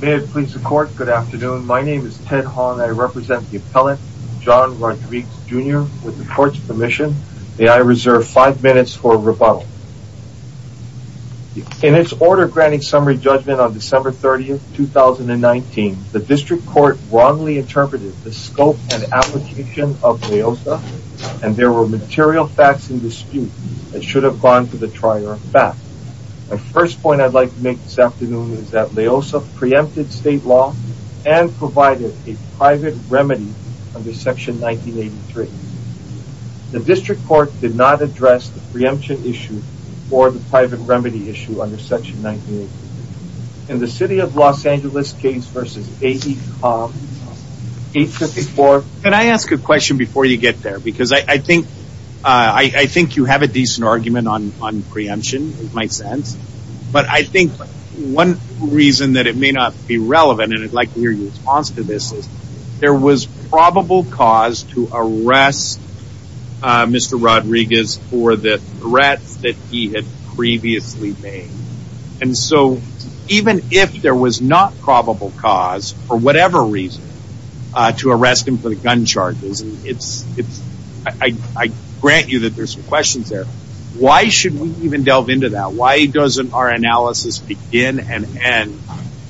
May it please the court, good afternoon. My name is Ted Hong. I represent the appellant John Rodrigues, Jr. with the court's permission. May I reserve five minutes for rebuttal. In its order granting summary judgment on December 30th, 2019, the district court wrongly interpreted the scope and application of LAOSA and there were material facts in dispute that should have gone to the trier back. My first point I'd like to make this afternoon is that LAOSA preempted state law and provided a private remedy under section 1983. The district court did not address the preemption issue or the private remedy issue under section 1983. In the city of Los Angeles case v. AECOM 854. Can I ask a question before you get there because I think you have a decent argument on preemption in my sense but I think one reason that it may not be relevant and I'd like to hear your response to this is there was probable cause to arrest Mr. Rodrigues for the threats that he had previously made and so even if there was not I grant you that there's some questions there. Why should we even delve into that? Why doesn't our analysis begin and end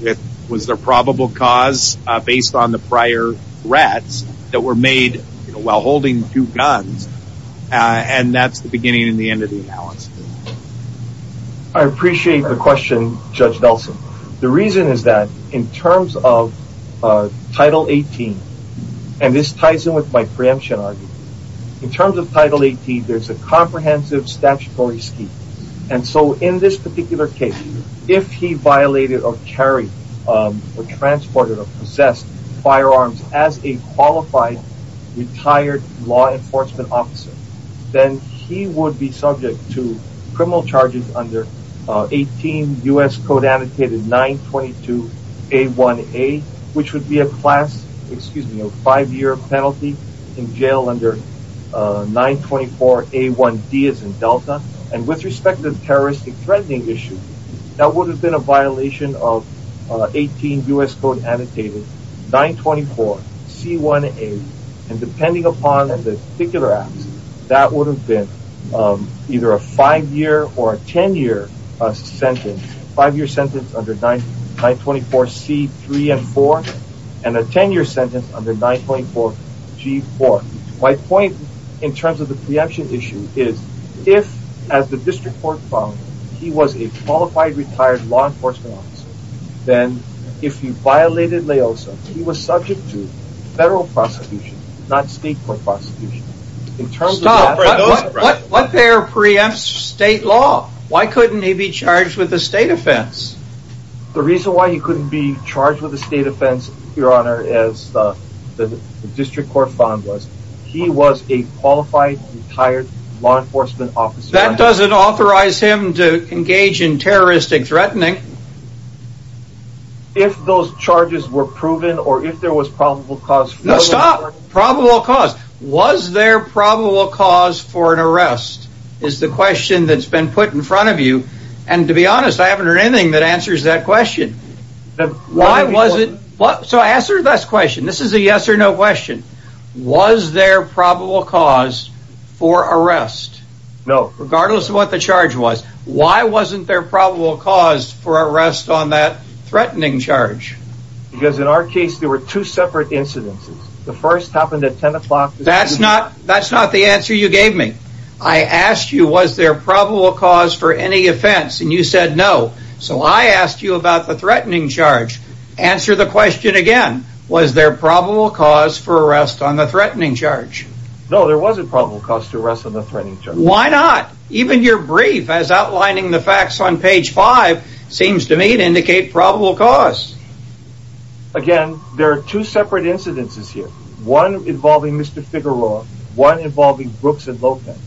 with was there probable cause based on the prior threats that were made while holding two guns and that's the beginning and the end of the analysis. I appreciate the question Judge Nelson. The reason is that in terms of title 18 and this ties in with my preemption argument. In terms of title 18 there's a comprehensive statutory scheme and so in this particular case if he violated or carried or transported or possessed firearms as a qualified retired law enforcement officer then he would be subject to five-year penalty in jail under 924 a1d as in delta and with respect to the terroristic threatening issue that would have been a violation of 18 U.S. code annotated 924 c1a and depending upon the particular act that would have been either a five-year or a 10-year sentence five-year under 924 c3 and 4 and a 10-year sentence under 924 g4. My point in terms of the preemption issue is if as the district court found he was a qualified retired law enforcement officer then if he violated LAOSA he was subject to federal prosecution not state court prosecution. In terms of what there preempts state law why couldn't he be charged with a state offense? The reason why he couldn't be charged with a state offense your honor as the district court found was he was a qualified retired law enforcement officer. That doesn't authorize him to engage in terroristic threatening. If those charges were proven or if there was probable no stop probable cause was there probable cause for an arrest is the question that's been put in front of you and to be honest I haven't heard anything that answers that question. Why was it what so answer this question this is a yes or no question was there probable cause for arrest? No. Regardless of what the charge was why wasn't there probable cause for arrest on that the first happened at 10 o'clock. That's not that's not the answer you gave me I asked you was there probable cause for any offense and you said no so I asked you about the threatening charge answer the question again was there probable cause for arrest on the threatening charge? No there wasn't probable cause to arrest on the threatening charge. Why not even your brief as outlining the facts on page five seems to me to indicate probable cause. Again there are two separate incidences here one involving Mr. Figueroa one involving Brooks and Lokman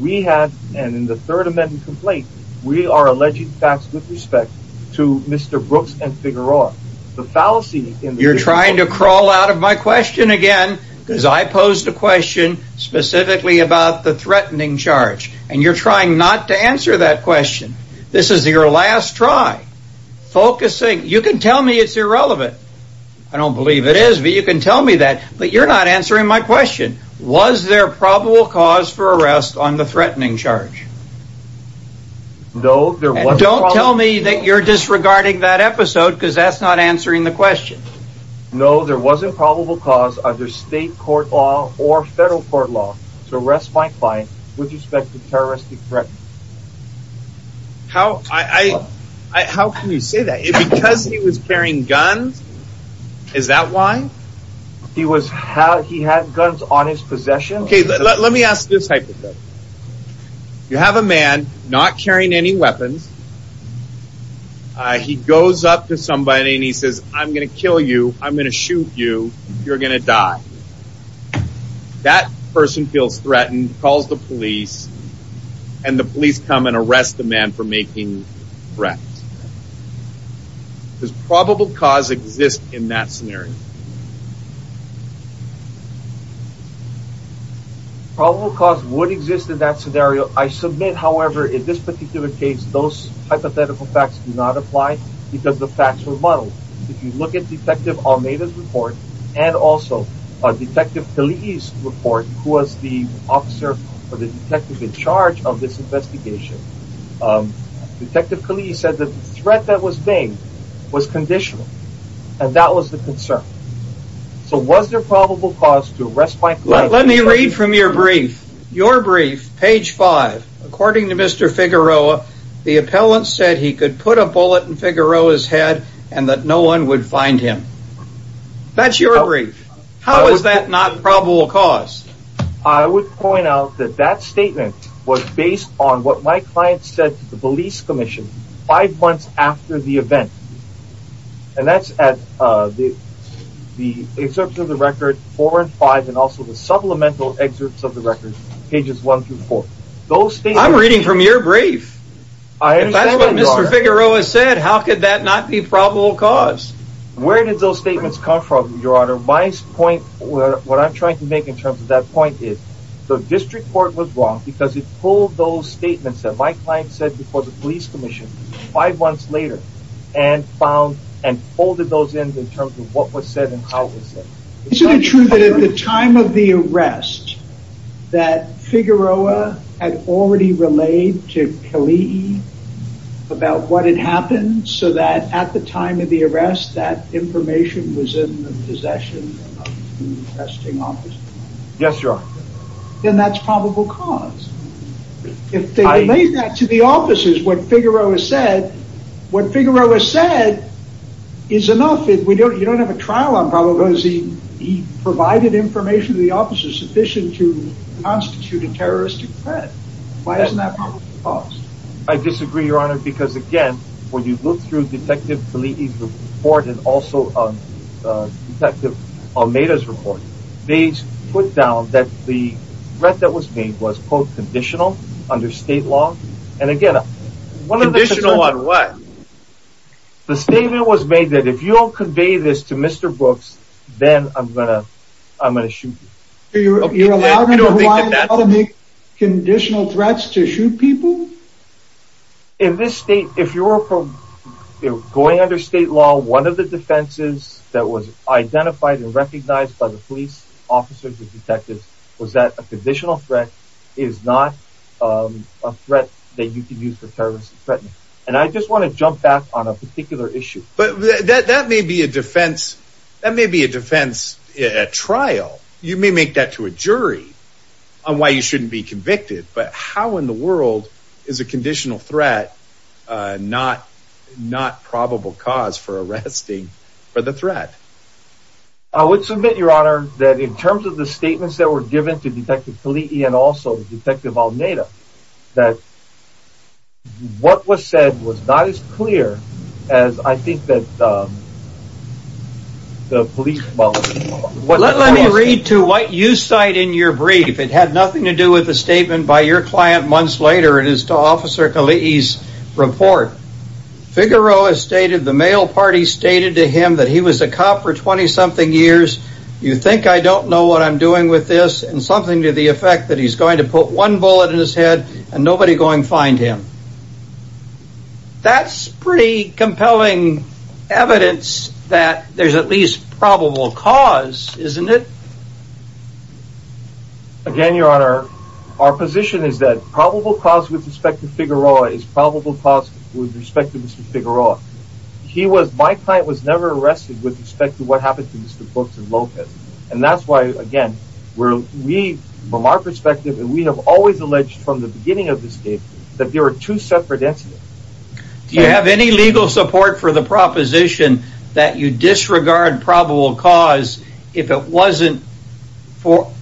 we have and in the third amendment complaint we are alleging facts with respect to Mr. Brooks and Figueroa the fallacy. You're trying to crawl out of my question again because I posed a question specifically about the threatening charge and you're trying not to answer that question this is your last try focusing you can tell me it's irrelevant I don't believe it is but you can tell me that but you're not answering my question was there probable cause for arrest on the threatening charge? No there was. Don't tell me that you're disregarding that episode because that's not answering the question. No there wasn't probable cause under state court law or federal court law to arrest my client with respect to terroristic threat. How I how can you say that because he was carrying guns is that why? He was how he had guns on his possession? Okay let me ask this type of thing you have a man not carrying any weapons uh he goes up to somebody and he says I'm gonna kill you I'm gonna shoot you you're gonna die that person feels threatened calls the police and the police come and arrest the man for making threats. Does probable cause exist in that scenario? Probable cause would exist in that scenario I submit however in this particular case those hypothetical facts do not apply because the facts were muddled if you look at detective report and also a detective police report who was the officer for the detective in charge of this investigation detective police said the threat that was being was conditional and that was the concern so was there probable cause to arrest my client? Let me read from your brief your brief page five according to Mr. Figueroa the appellant said he could put a bullet in Figueroa's head and that no one would find him that's your brief how is that not probable cause? I would point out that that statement was based on what my client said to the police commission five months after the event and that's at uh the the excerpts of the record four and five and also the supplemental excerpts of the record pages one through four those things I'm reading from your brief that's what Mr. Figueroa said how could that not be probable cause? Where did those statements come from your honor my point where what I'm trying to make in terms of that point is the district court was wrong because it pulled those statements that my client said before the police commission five months later and found and folded those in in terms of what was said and how it was said. Isn't it true that at the time of the arrest that Figueroa had already relayed to Kelly about what had happened so that at the time of the arrest that information was in the possession of the arresting officer? Yes your honor. Then that's probable cause if they relayed that to the officers what Figueroa said what Figueroa said is enough if we don't you don't have a trial on he provided information to the officers sufficient to constitute a terroristic threat why isn't that probable cause? I disagree your honor because again when you look through detective Kalihi's report and also uh detective Almeida's report they put down that the threat that was made was quote conditional under state law and again conditional on what? The statement was made that if you don't convey this to Mr. Brooks then I'm gonna I'm gonna shoot you. You're allowing to make conditional threats to shoot people? In this state if you're from you're going under state law one of the defenses that was identified and recognized by the police officers and detectives was that a conditional threat is not um a threat that you can use for terrorism and I just want to jump back on a particular issue. But that that may be a defense that may be a defense at trial you may make that to a jury on why you shouldn't be convicted but how in the world is a conditional threat uh not not probable cause for arresting for the threat? I would submit your honor that in terms of the statements that were given to detective Kalihi and also detective Almeida that what was said was not as clear as I think that um the police well. Let me read to what you cite in your brief it had nothing to do with the statement by your client months later it is to officer Kalihi's report. Figueroa stated the male party stated to him that he was a cop for 20 something years you think I don't know what I'm doing with this and something to the effect that he's going to put one bullet in his head and nobody going find him. That's pretty compelling evidence that there's at least probable cause isn't it? Again your honor our position is that probable cause with respect to Figueroa is probable cause with respect to Mr. Figueroa. He was my client was never arrested with respect to what happened to Mr. Brooks and Lopez and that's why again we're we from our perspective and we have always alleged from the beginning of this case that there are two separate incidents. Do you have any legal support for the proposition that you disregard probable cause if it wasn't for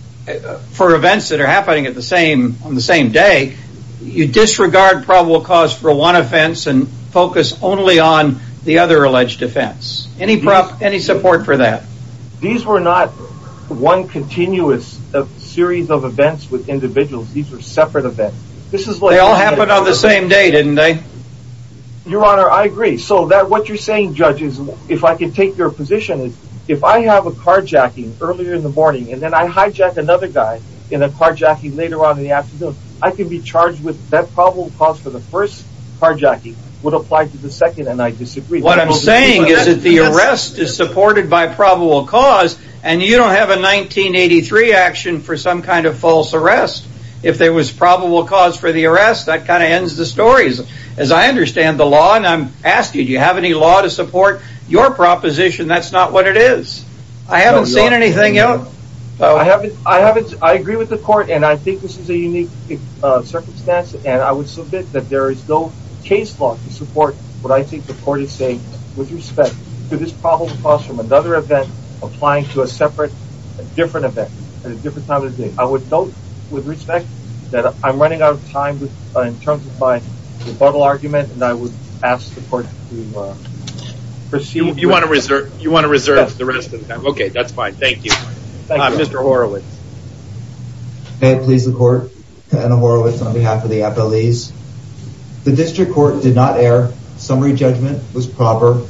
for events that are happening at the same on the same day you disregard probable cause for one offense and focus only on the other any prop any support for that? These were not one continuous series of events with individuals these are separate events. They all happened on the same day didn't they? Your honor I agree so that what you're saying judges if I can take your position is if I have a carjacking earlier in the morning and then I hijack another guy in a carjacking later on in the afternoon I can be charged with that probable cause for the first carjacking would apply to the second and I disagree. What I'm saying is that the arrest is supported by probable cause and you don't have a 1983 action for some kind of false arrest. If there was probable cause for the arrest that kind of ends the stories as I understand the law and I'm asking do you have any law to support your proposition that's not what it is. I haven't seen anything else. I haven't I haven't I agree with the court and I think this is a unique circumstance and I would submit that there is no case law to support what I think the court is saying with respect to this probable cause from another event applying to a separate a different event at a different time of the day. I would note with respect that I'm running out of time in terms of my rebuttal argument and I would ask the court to proceed. You want to reserve you want to reserve the rest of the time okay that's fine thank you. Mr. Horowitz. May it please the court Anna Horowitz on behalf of the FLEs. The district court did not err. Summary judgment was proper.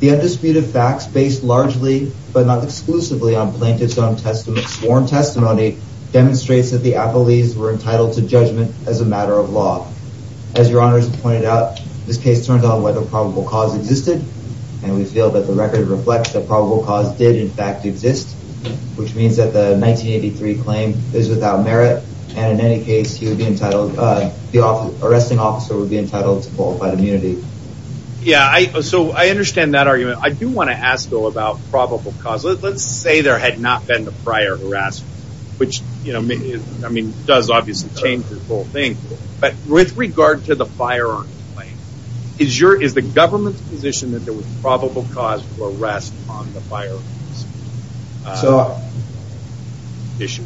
The undisputed facts based largely but not exclusively on plaintiff's own testimony sworn testimony demonstrates that the FLEs were entitled to judgment as a matter of law. As your honors pointed out this case turns out whether probable cause existed and we feel that the record reflects that probable cause did in fact exist which means that the 1983 claim is without merit and in any case he would be entitled uh arresting officer would be entitled to qualified immunity. Yeah I so I understand that argument. I do want to ask though about probable cause let's say there had not been the prior arrest which you know I mean does obviously change the whole thing but with regard to the firearm claim is your is the government's position that there was probable cause for arrest on the fire? So issue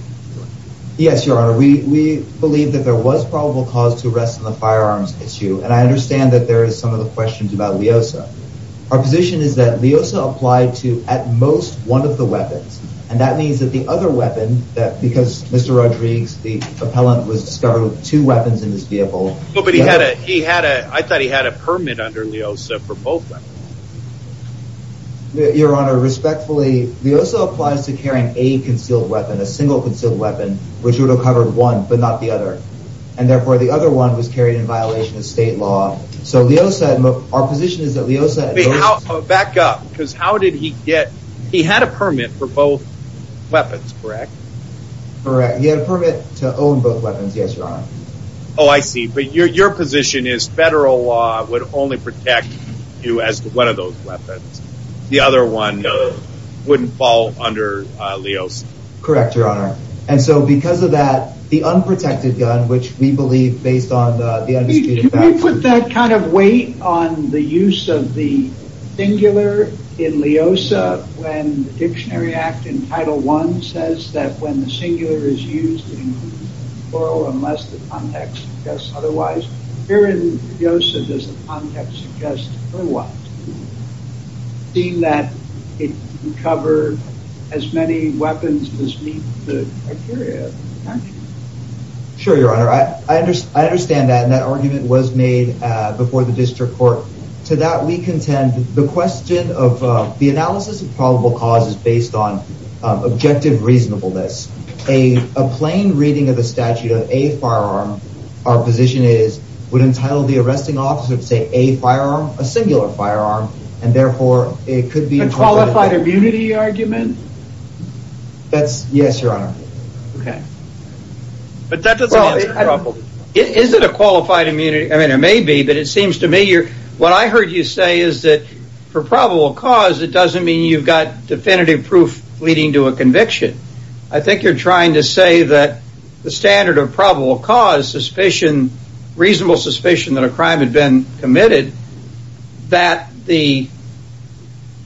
yes your honor we we believe that there was probable cause to arrest on the firearms issue and I understand that there is some of the questions about Leosa. Our position is that Leosa applied to at most one of the weapons and that means that the other weapon that because Mr. Rodriguez the appellant was discovered with two weapons in this vehicle. But he had a he had Leosa applies to carrying a concealed weapon a single concealed weapon which would have covered one but not the other and therefore the other one was carried in violation of state law. So Leosa our position is that Leosa back up because how did he get he had a permit for both weapons correct? Correct he had a permit to own both weapons yes your honor. Oh I see but your your position is federal law would only protect you as one of those weapons the other one wouldn't fall under Leosa. Correct your honor and so because of that the unprotected gun which we believe based on the industry. Can we put that kind of weight on the use of the singular in Leosa when the dictionary act in title one says that when the singular is used in plural unless the context suggests otherwise here in Leosa does the context suggest or what? Seeing that it covered as many weapons as meet the criteria. Sure your honor I understand that and that argument was made before the district court to that we contend the question of the analysis of probable cause is based on objective reasonableness. A plain reading of the statute of a firearm our position is would entitle the arresting officer to say a firearm a singular firearm and therefore it could be. A qualified immunity argument? Yes your honor. Is it a qualified immunity I mean it may be but it seems to me what I heard you say is that for probable cause it doesn't mean you've got definitive proof leading to a conviction. I think you're trying to say that the standard of probable cause suspicion reasonable suspicion that a crime had been committed that the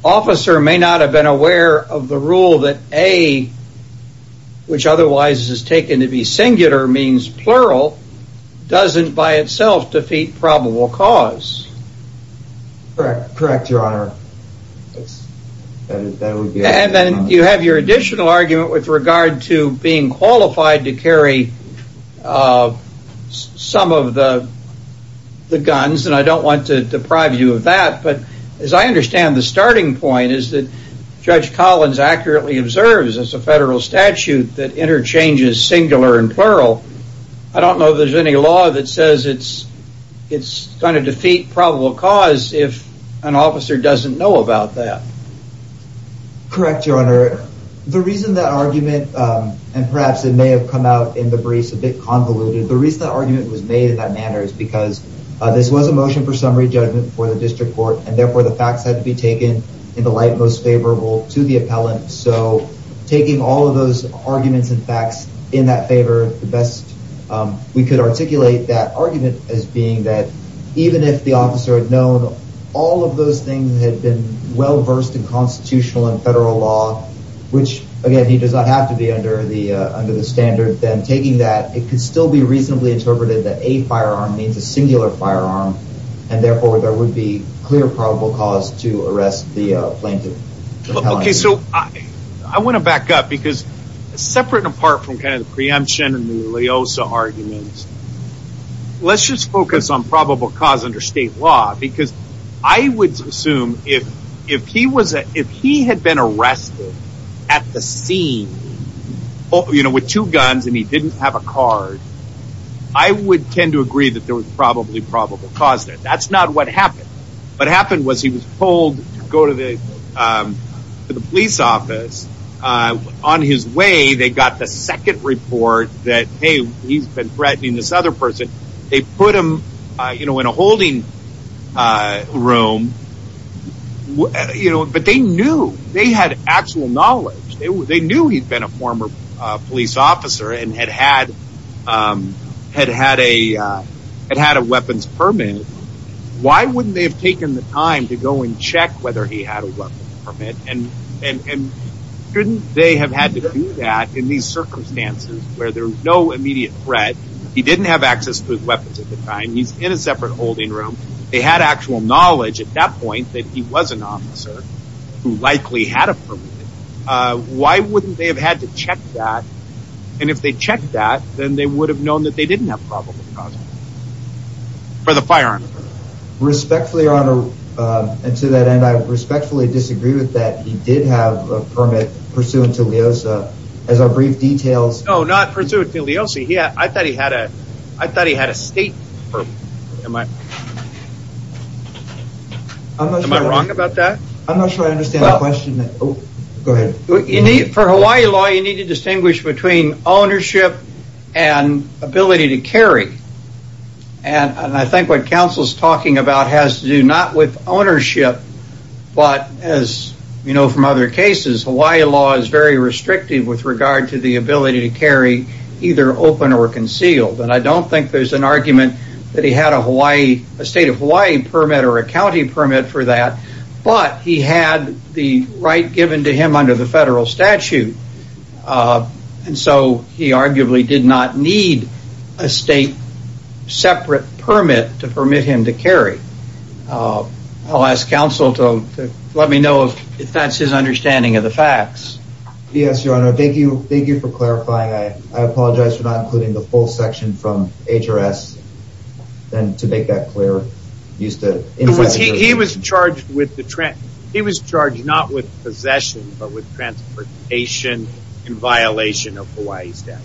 officer may not have been aware of the rule that a which otherwise is taken to be singular means plural doesn't by itself defeat probable cause. Correct your honor. And then you have your additional argument with regard to being qualified to carry some of the guns and I don't want to deprive you of that but as I understand the starting point is that judge Collins accurately observes as a federal statute that interchanges singular and plural I don't know there's any law that says it's going to defeat probable cause if an officer doesn't know about that. Correct your honor the reason that argument and perhaps it may have come out in the briefs a bit convoluted the reason that argument was made in that manner is because this was a motion for summary judgment before the district court and therefore the facts had to be taken in the light most favorable to the appellant so taking all of those arguments and facts in that favor the best we could articulate that argument as being that even if the officer had known all of those things had been well versed in constitutional and federal law which again he does not have to be under the standard then taking that it could still be reasonably interpreted that a firearm means a singular firearm and therefore there would be clear probable cause to arrest the plaintiff. Okay so I want to back up because separate and apart from I would assume if he had been arrested at the scene with two guns and he didn't have a card I would tend to agree that there was probably probable cause there that's not what happened what happened was he was told to go to the police office on his way they got the second report that hey he's been threatening this other person they put him you know in a holding room you know but they knew they had actual knowledge they knew he'd been a former police officer and had had a weapons permit why wouldn't they have taken the time to go and check whether he had a weapon permit and shouldn't they have had to do that in these circumstances where there's no immediate threat he didn't have access to his weapons at the time he's in a separate holding room they had actual knowledge at that point that he was an officer who likely had a permit why wouldn't they have had to check that and if they checked that then they would have known that they didn't have probable cause for the firearm respectfully your honor and to that end I respectfully disagree with that he did have a permit pursuant to leosa as our brief oh not pursuant to leosa yeah I thought he had a I thought he had a state permit am I wrong about that I'm not sure I understand the question go ahead you need for Hawaii law you need to distinguish between ownership and ability to carry and I think what council's talking about has to do not with ownership but as you know from other cases Hawaii law is very to carry either open or concealed and I don't think there's an argument that he had a Hawaii a state of Hawaii permit or a county permit for that but he had the right given to him under the federal statute and so he arguably did not need a state separate permit to permit him to carry I'll ask council to let me know if that's his understanding of the facts yes your honor thank thank you for clarifying I apologize for not including the full section from HRS then to make that clear used to influence he was charged with the trend he was charged not with possession but with transportation in violation of Hawaii's death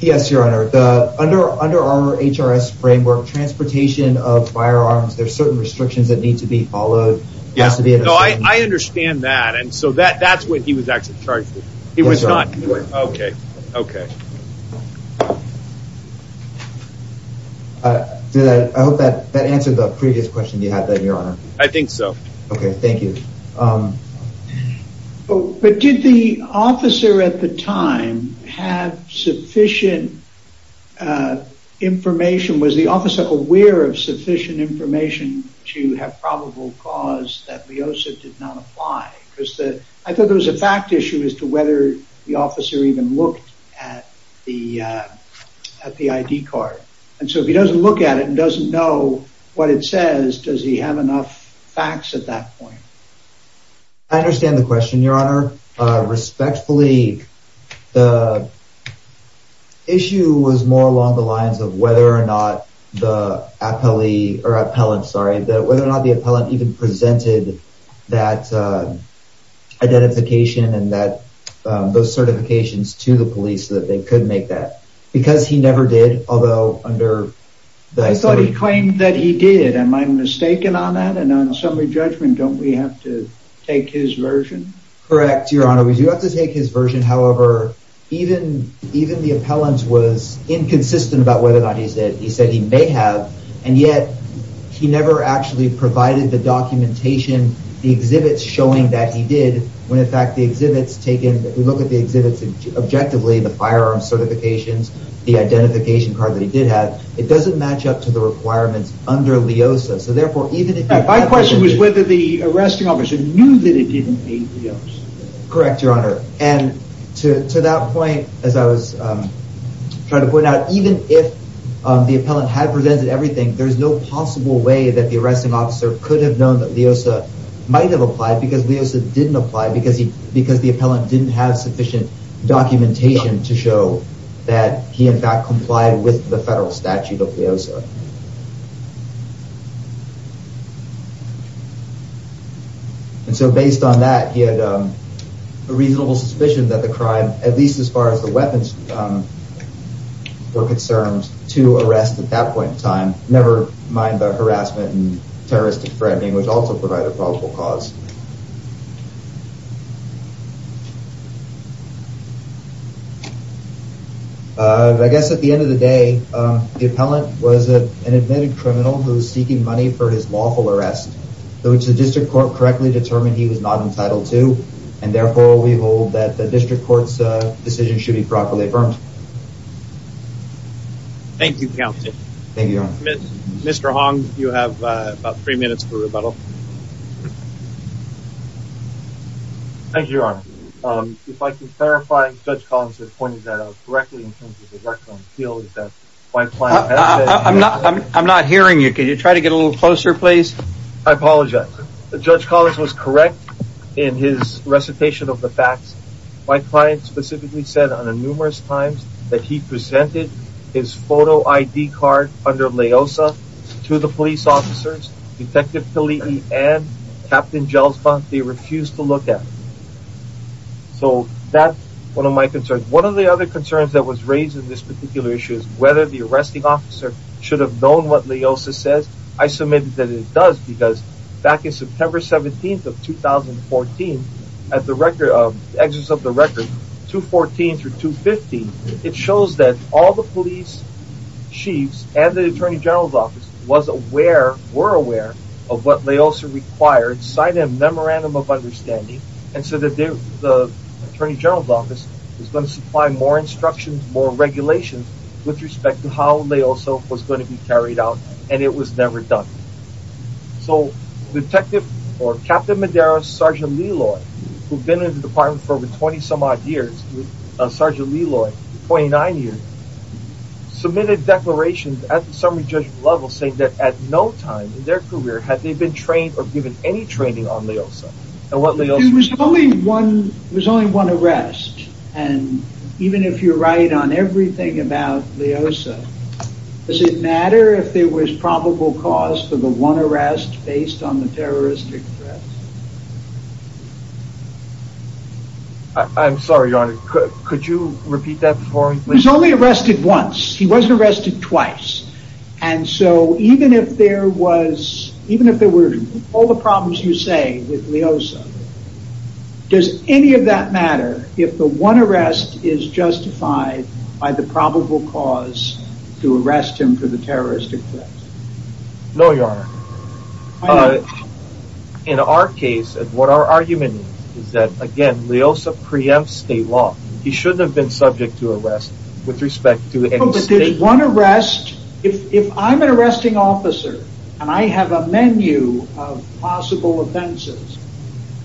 yes your honor the under under our HRS framework transportation of firearms there's certain restrictions that need to be followed yes to be so I understand that and so that that's what he was actually charged with okay okay uh did I hope that that answered the previous question you had that your honor I think so okay thank you um but did the officer at the time have sufficient uh information was the officer aware of sufficient information to have probable cause that Leosa did not apply because the I issue is to whether the officer even looked at the uh at the ID card and so if he doesn't look at it and doesn't know what it says does he have enough facts at that point I understand the question your honor uh respectfully the issue was more along the lines of whether or not the appellee or appellant sorry that whether or not the those certifications to the police that they could make that because he never did although under that I thought he claimed that he did am I mistaken on that and on assembly judgment don't we have to take his version correct your honor we do have to take his version however even even the appellant was inconsistent about whether or not he said he said he may have and yet he never actually provided the documentation the exhibits showing that he did when in fact the exhibits taken we look at the exhibits objectively the firearm certifications the identification card that he did have it doesn't match up to the requirements under Leosa so therefore even if my question was whether the arresting officer knew that it didn't correct your honor and to to that point as I was um trying to point out even if um the appellant had presented everything there's no possible way that the arresting officer could have known that might have applied because Leosa didn't apply because he because the appellant didn't have sufficient documentation to show that he in fact complied with the federal statute of Leosa and so based on that he had a reasonable suspicion that the crime at least as far as the weapons were concerned to arrest at that point in time never mind the harassment and threatening which also provide a probable cause uh I guess at the end of the day um the appellant was a an admitted criminal who's seeking money for his lawful arrest which the district court correctly determined he was not entitled to and therefore we hold that the district court's uh decision should be properly affirmed thank you county thank you mr hong you have uh about three minutes for rebuttal thank you your honor um if i can clarify judge collins has pointed that out correctly in terms of the record and feel is that my client i'm not i'm not hearing you can you try to get a little closer please i apologize the judge collins was correct in his recitation of the facts my client specifically said on a numerous times that he presented his photo id card under leosa to the police officers detective kalihi and captain gelsbond they refused to look at so that's one of my concerns one of the other concerns that was raised in this particular issue is whether the arresting officer should have known what leosa says i submitted that it does because back in september 17th of 2014 at the record of exits of the record 214 through 215 it shows that all the police chiefs and the attorney general's office was aware were aware of what leosa required sign a memorandum of understanding and so that the attorney general's office is going to supply more instructions more regulations with respect to how leoso was going to be carried out and it was never done so detective or captain madera sergeant liloy who've been in the department for over 20 some odd years with sergeant liloy 29 years submitted declarations at the summary judgment level saying that at no time in their career had they been trained or given any training on leosa and what was only one there's only one arrest and even if you're right on everything about leosa does it matter if there was probable cause for the one arrest based on the terroristic i'm sorry your honor could you repeat that before he's only arrested once he wasn't arrested twice and so even if there was even if there were all the problems you say with leosa does any of that matter if the one arrest is justified by the probable cause to arrest him for the terroristic threat no your honor uh in our case and what our argument is is that again leosa preempts state law he shouldn't have been subject to arrest with respect to any state one arrest if if i'm an arresting officer and i have a menu of possible offenses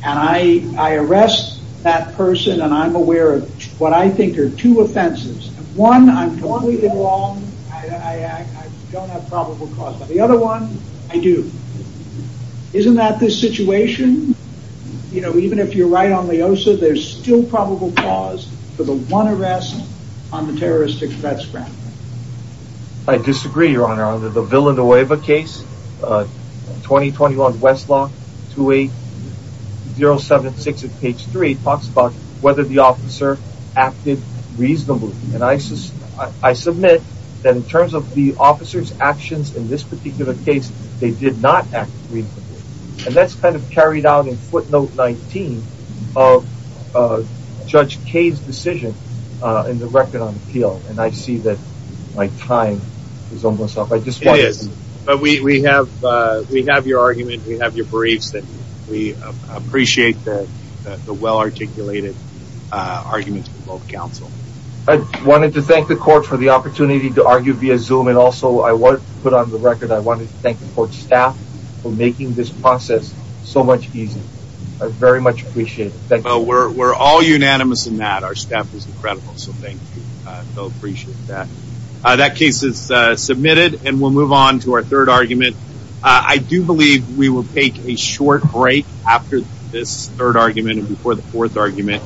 and i i arrest that person and i'm aware of what i think are two offenses one i'm completely wrong i don't have probable cause but the other one i do isn't that this situation you know even if you're right on i disagree your honor under the villanueva case uh 2021 westlaw 28076 at page three talks about whether the officer acted reasonably and i i submit that in terms of the officer's actions in this particular case they did not act and that's kind of carried out in footnote 19 of uh judge kade's decision uh in the record on appeal and i see that my time is almost up i just want it but we we have uh we have your argument we have your briefs that we appreciate that the well-articulated uh arguments from both counsel i wanted to thank the court for the opportunity to argue via zoom and also i want to put on the record i wanted to thank the court staff for making this process so much easier i very much appreciate that we're all unanimous in that our staff is incredible so thank you uh i appreciate that uh that case is uh submitted and we'll move on to our third argument i do believe we will take a short break after this third argument and before the fourth argument